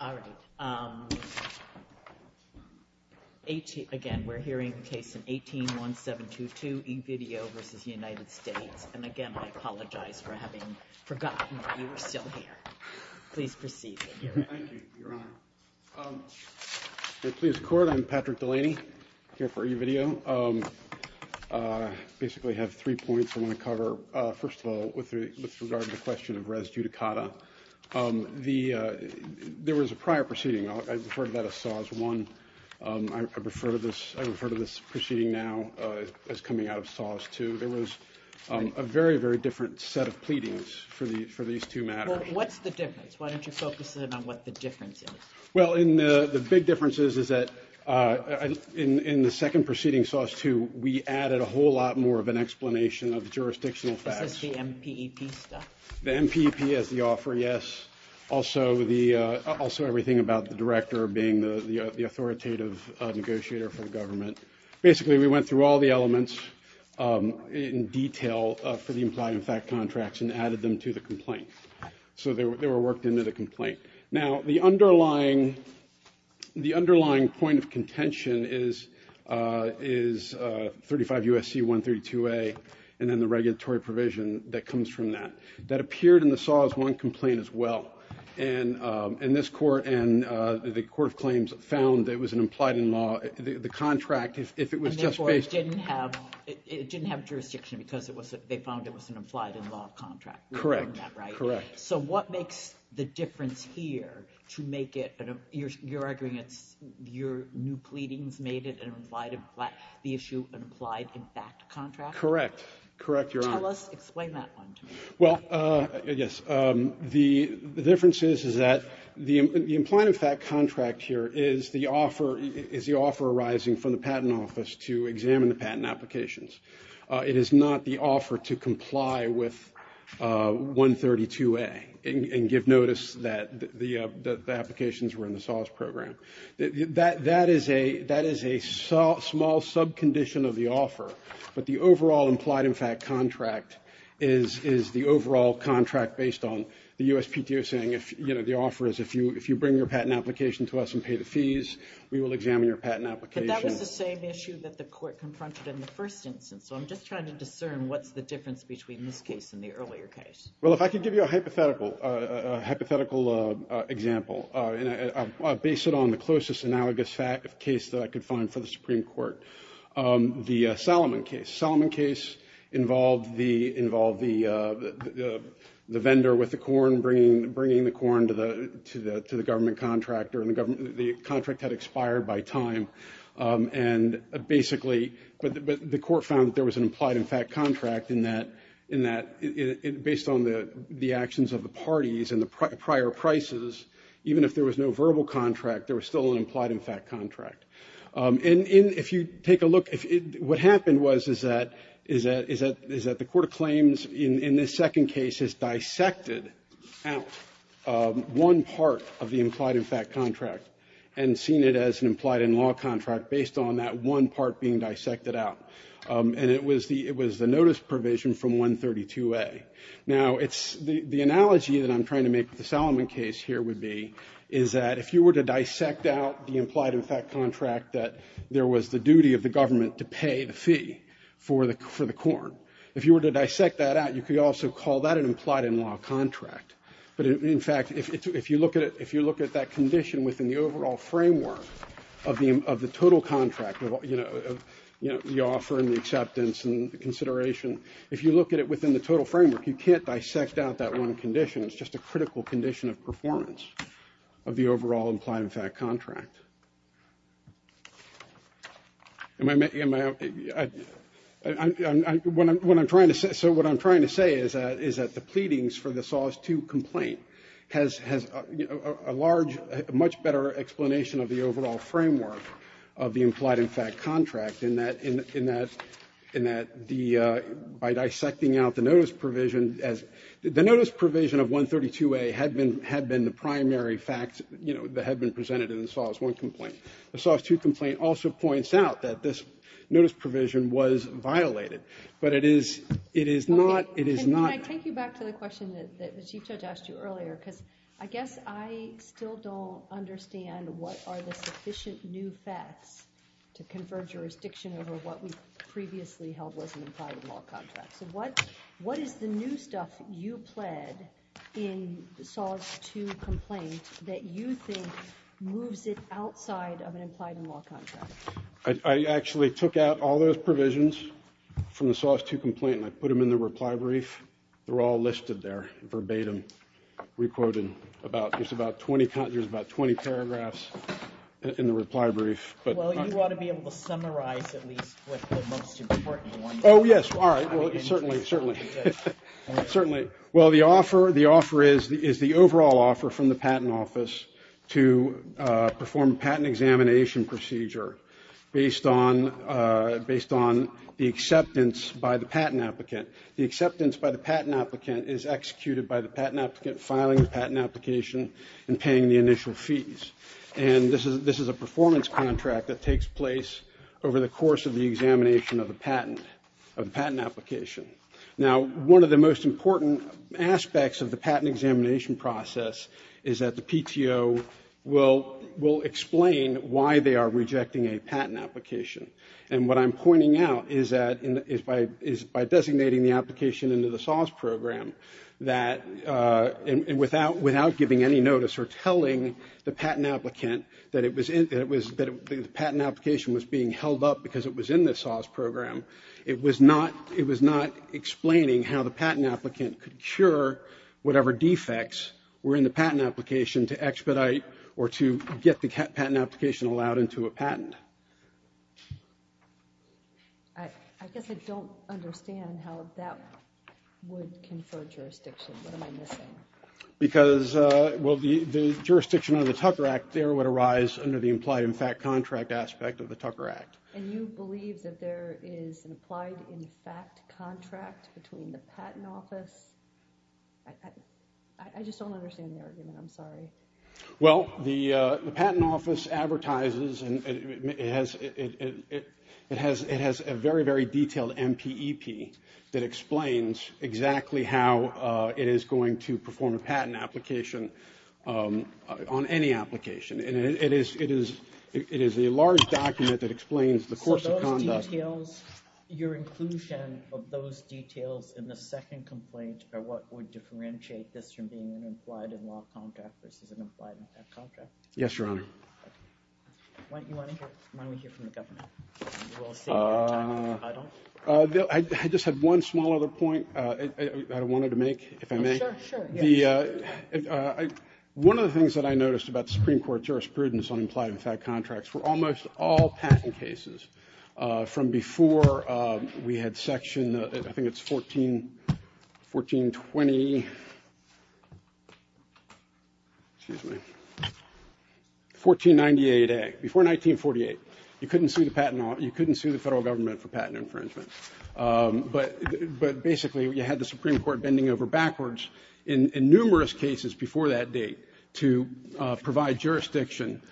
All right. Again, we're hearing a case in 18-1722 E-Video versus United States. And again, I apologize for having forgotten that you were still here. Please proceed. Thank you, Your Honor. If it pleases the Court, I'm Patrick Delaney here for E-Video. I basically have three points I want to cover. First of all, with regard to the question of res judicata, there was a prior proceeding. I refer to that as SAUS 1. I refer to this proceeding now as coming out of SAUS 2. There was a very, very different set of pleadings for these two matters. So what's the difference? Why don't you focus in on what the difference is? Well, the big difference is that in the second proceeding, SAUS 2, we added a whole lot more of an explanation of the jurisdictional facts. This is the MPEP stuff? The MPEP as the offer, yes. Also everything about the director being the authoritative negotiator for the government. Basically, we went through all the elements in detail for the implied and fact contracts and added them to the complaint. So they were worked into the complaint. Now, the underlying point of contention is 35 U.S.C. 132a and then the regulatory provision that comes from that. That appeared in the SAUS 1 complaint as well. And this Court and the Court of Claims found that it was an implied in law. The contract, if it was just based... Correct. So what makes the difference here to make it, you're arguing it's your new pleadings made it an implied, the issue an implied in fact contract? Correct. Correct, Your Honor. Tell us, explain that one to me. Well, yes. The difference is that the implied in fact contract here is the offer arising from the patent office to examine the patent applications. It is not the offer to comply with 132a and give notice that the applications were in the SAUS program. That is a small sub-condition of the offer. But the overall implied in fact contract is the overall contract based on the USPTO saying, you know, the offer is if you bring your patent application to us and pay the fees, we will examine your patent application. But that was the same issue that the Court confronted in the first instance. So I'm just trying to discern what's the difference between this case and the earlier case. Well, if I could give you a hypothetical example, based on the closest analogous case that I could find for the Supreme Court, the Salomon case. involved the vendor with the corn, bringing the corn to the government contractor, and the contract had expired by time. And basically, the Court found that there was an implied in fact contract in that, based on the actions of the parties and the prior prices, even if there was no verbal contract, there was still an implied in fact contract. And if you take a look, what happened was is that the Court of Claims, in this second case, has dissected out one part of the implied in fact contract and seen it as an implied in law contract based on that one part being dissected out. And it was the notice provision from 132A. Now, the analogy that I'm trying to make with the Salomon case here would be is that if you were to dissect out the implied in fact contract that there was the duty of the government to pay the fee for the corn, if you were to dissect that out, you could also call that an implied in law contract. But in fact, if you look at that condition within the overall framework of the total contract, you know, the offer and the acceptance and the consideration, if you look at it within the total framework, you can't dissect out that one condition. It's just a critical condition of performance of the overall implied in fact contract. So what I'm trying to say is that the pleadings for the SOS 2 complaint has a large, much better explanation of the overall framework of the implied in fact contract in that by dissecting out the notice provision, the notice provision of 132A had been the primary fact that had been presented in the SOS 1 complaint. The SOS 2 complaint also points out that this notice provision was violated, but it is not. Can I take you back to the question that the Chief Judge asked you earlier? Because I guess I still don't understand what are the sufficient new facts to convert jurisdiction over what we previously held was an implied in law contract. So what is the new stuff you pled in the SOS 2 complaint that you think moves it outside of an implied in law contract? I actually took out all those provisions from the SOS 2 complaint and I put them in the reply brief. They're all listed there verbatim, re-quoted. There's about 20 paragraphs in the reply brief. Well, you ought to be able to summarize at least what the most important ones are. Oh, yes. All right. Certainly. Well, the offer is the overall offer from the patent office to perform patent examination procedure based on the acceptance by the patent applicant. The acceptance by the patent applicant is executed by the patent applicant filing the patent application and paying the initial fees. And this is a performance contract that takes place over the course of the examination of the patent application. Now, one of the most important aspects of the patent examination process is that the PTO will explain why they are rejecting a patent application. And what I'm pointing out is that by designating the application into the SOS program, without giving any notice or telling the patent applicant that the patent application was being held up because it was in the SOS program, it was not explaining how the patent applicant could cure whatever defects were in the patent application to expedite or to get the patent application allowed into a patent. I guess I don't understand how that would confer jurisdiction. What am I missing? Because, well, the jurisdiction of the Tucker Act there would arise under the implied in fact contract aspect of the Tucker Act. And you believe that there is an implied in fact contract between the patent office? I just don't understand the argument. I'm sorry. Well, the patent office advertises and it has a very, very detailed MPEP that explains exactly how it is going to perform a patent application on any application. And it is a large document that explains the course of conduct. So those details, your inclusion of those details in the second complaint are what would differentiate this from being an implied in law contract versus an implied in fact contract? Yes, Your Honor. I just had one small other point I wanted to make, if I may. One of the things that I noticed about the Supreme Court jurisprudence on implied in fact contracts were almost all patent cases from before we had section, I think it's 1420, excuse me, 1498A, before 1948. You couldn't sue the federal government for patent infringement. But basically you had the Supreme Court bending over backwards in numerous cases before that date to provide jurisdiction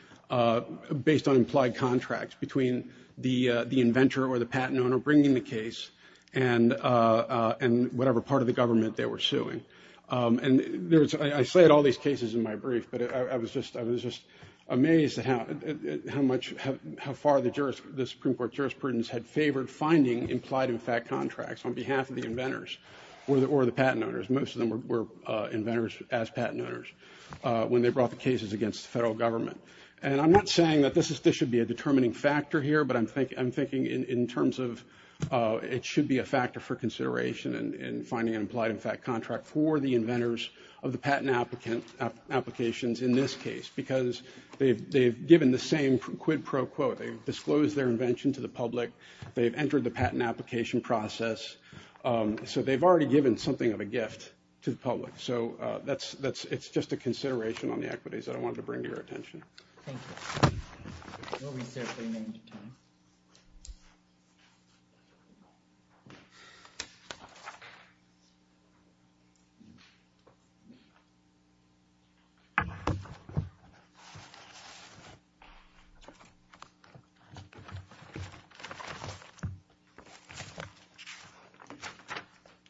based on implied contracts between the inventor or the patent owner bringing the case and whatever part of the government they were suing. And I cited all these cases in my brief, but I was just amazed at how much, how far the Supreme Court jurisprudence had favored finding implied in fact contracts on behalf of the inventors or the patent owners. Most of them were inventors as patent owners when they brought the cases against the federal government. And I'm not saying that this should be a determining factor here, but I'm thinking in terms of it should be a factor for consideration in finding an implied in fact contract for the inventors of the patent applications in this case. Because they've given the same quid pro quo. They've disclosed their invention to the public. They've entered the patent application process. So they've already given something of a gift to the public. So it's just a consideration on the equities that I wanted to bring to your attention. Thank you.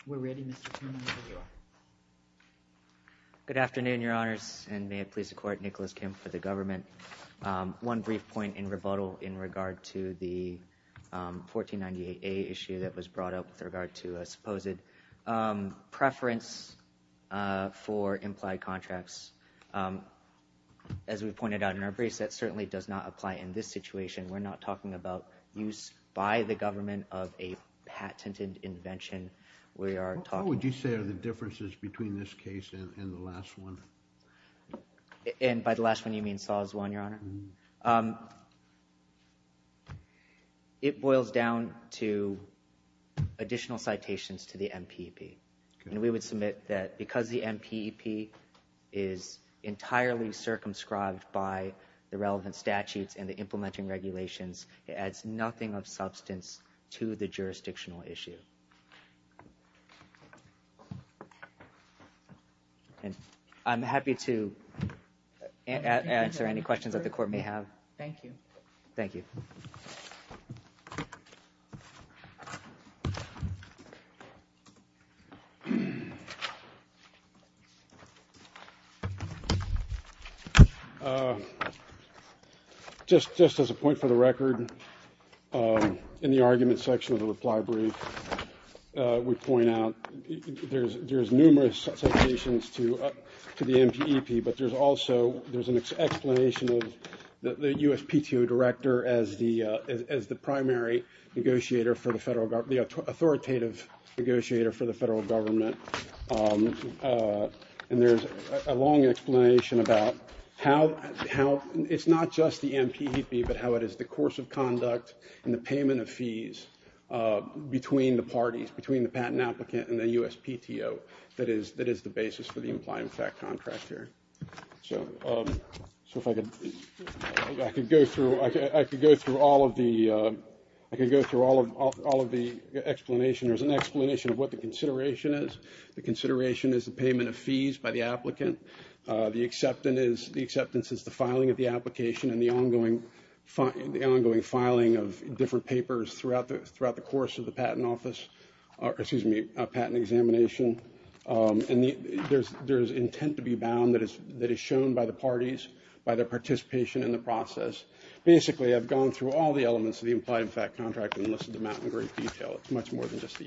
We're ready, Mr. Kim for the government. One brief point in rebuttal in regard to the 1498A issue that was brought up with regard to a supposed preference for implied contracts. As we pointed out in our briefs, that certainly does not apply in this situation. We're not talking about use by the government of a patented invention. What would you say are the differences between this case and the last one? And by the last one, you mean Saw's one, Your Honor? It boils down to additional citations to the MPP. And we would submit that because the MPP is entirely circumscribed by the relevant statutes and the implementing regulations, it adds nothing of substance to the jurisdictional issue. I'm happy to answer any questions that the court may have. Thank you. Thank you. Just as a point for the record, in the argument section of the reply brief, we point out there's numerous citations to the MPP. But there's also an explanation of the USPTO director as the primary negotiator for the federal government, the authoritative negotiator for the federal government. And there's a long explanation about how it's not just the MPP, but how it is the course of conduct and the payment of fees between the parties, between the patent applicant and the USPTO, that is the basis for the implied contract here. So if I could go through all of the explanation. There's an explanation of what the consideration is. The consideration is the payment of fees by the applicant. The acceptance is the filing of the application and the ongoing filing of different papers throughout the course of the patent office, excuse me, patent examination. And there's intent to be bound that is shown by the parties, by their participation in the process. Basically, I've gone through all the elements of the implied contract and listed them out in great detail. It's much more than just the MPP. Thank you. All rise.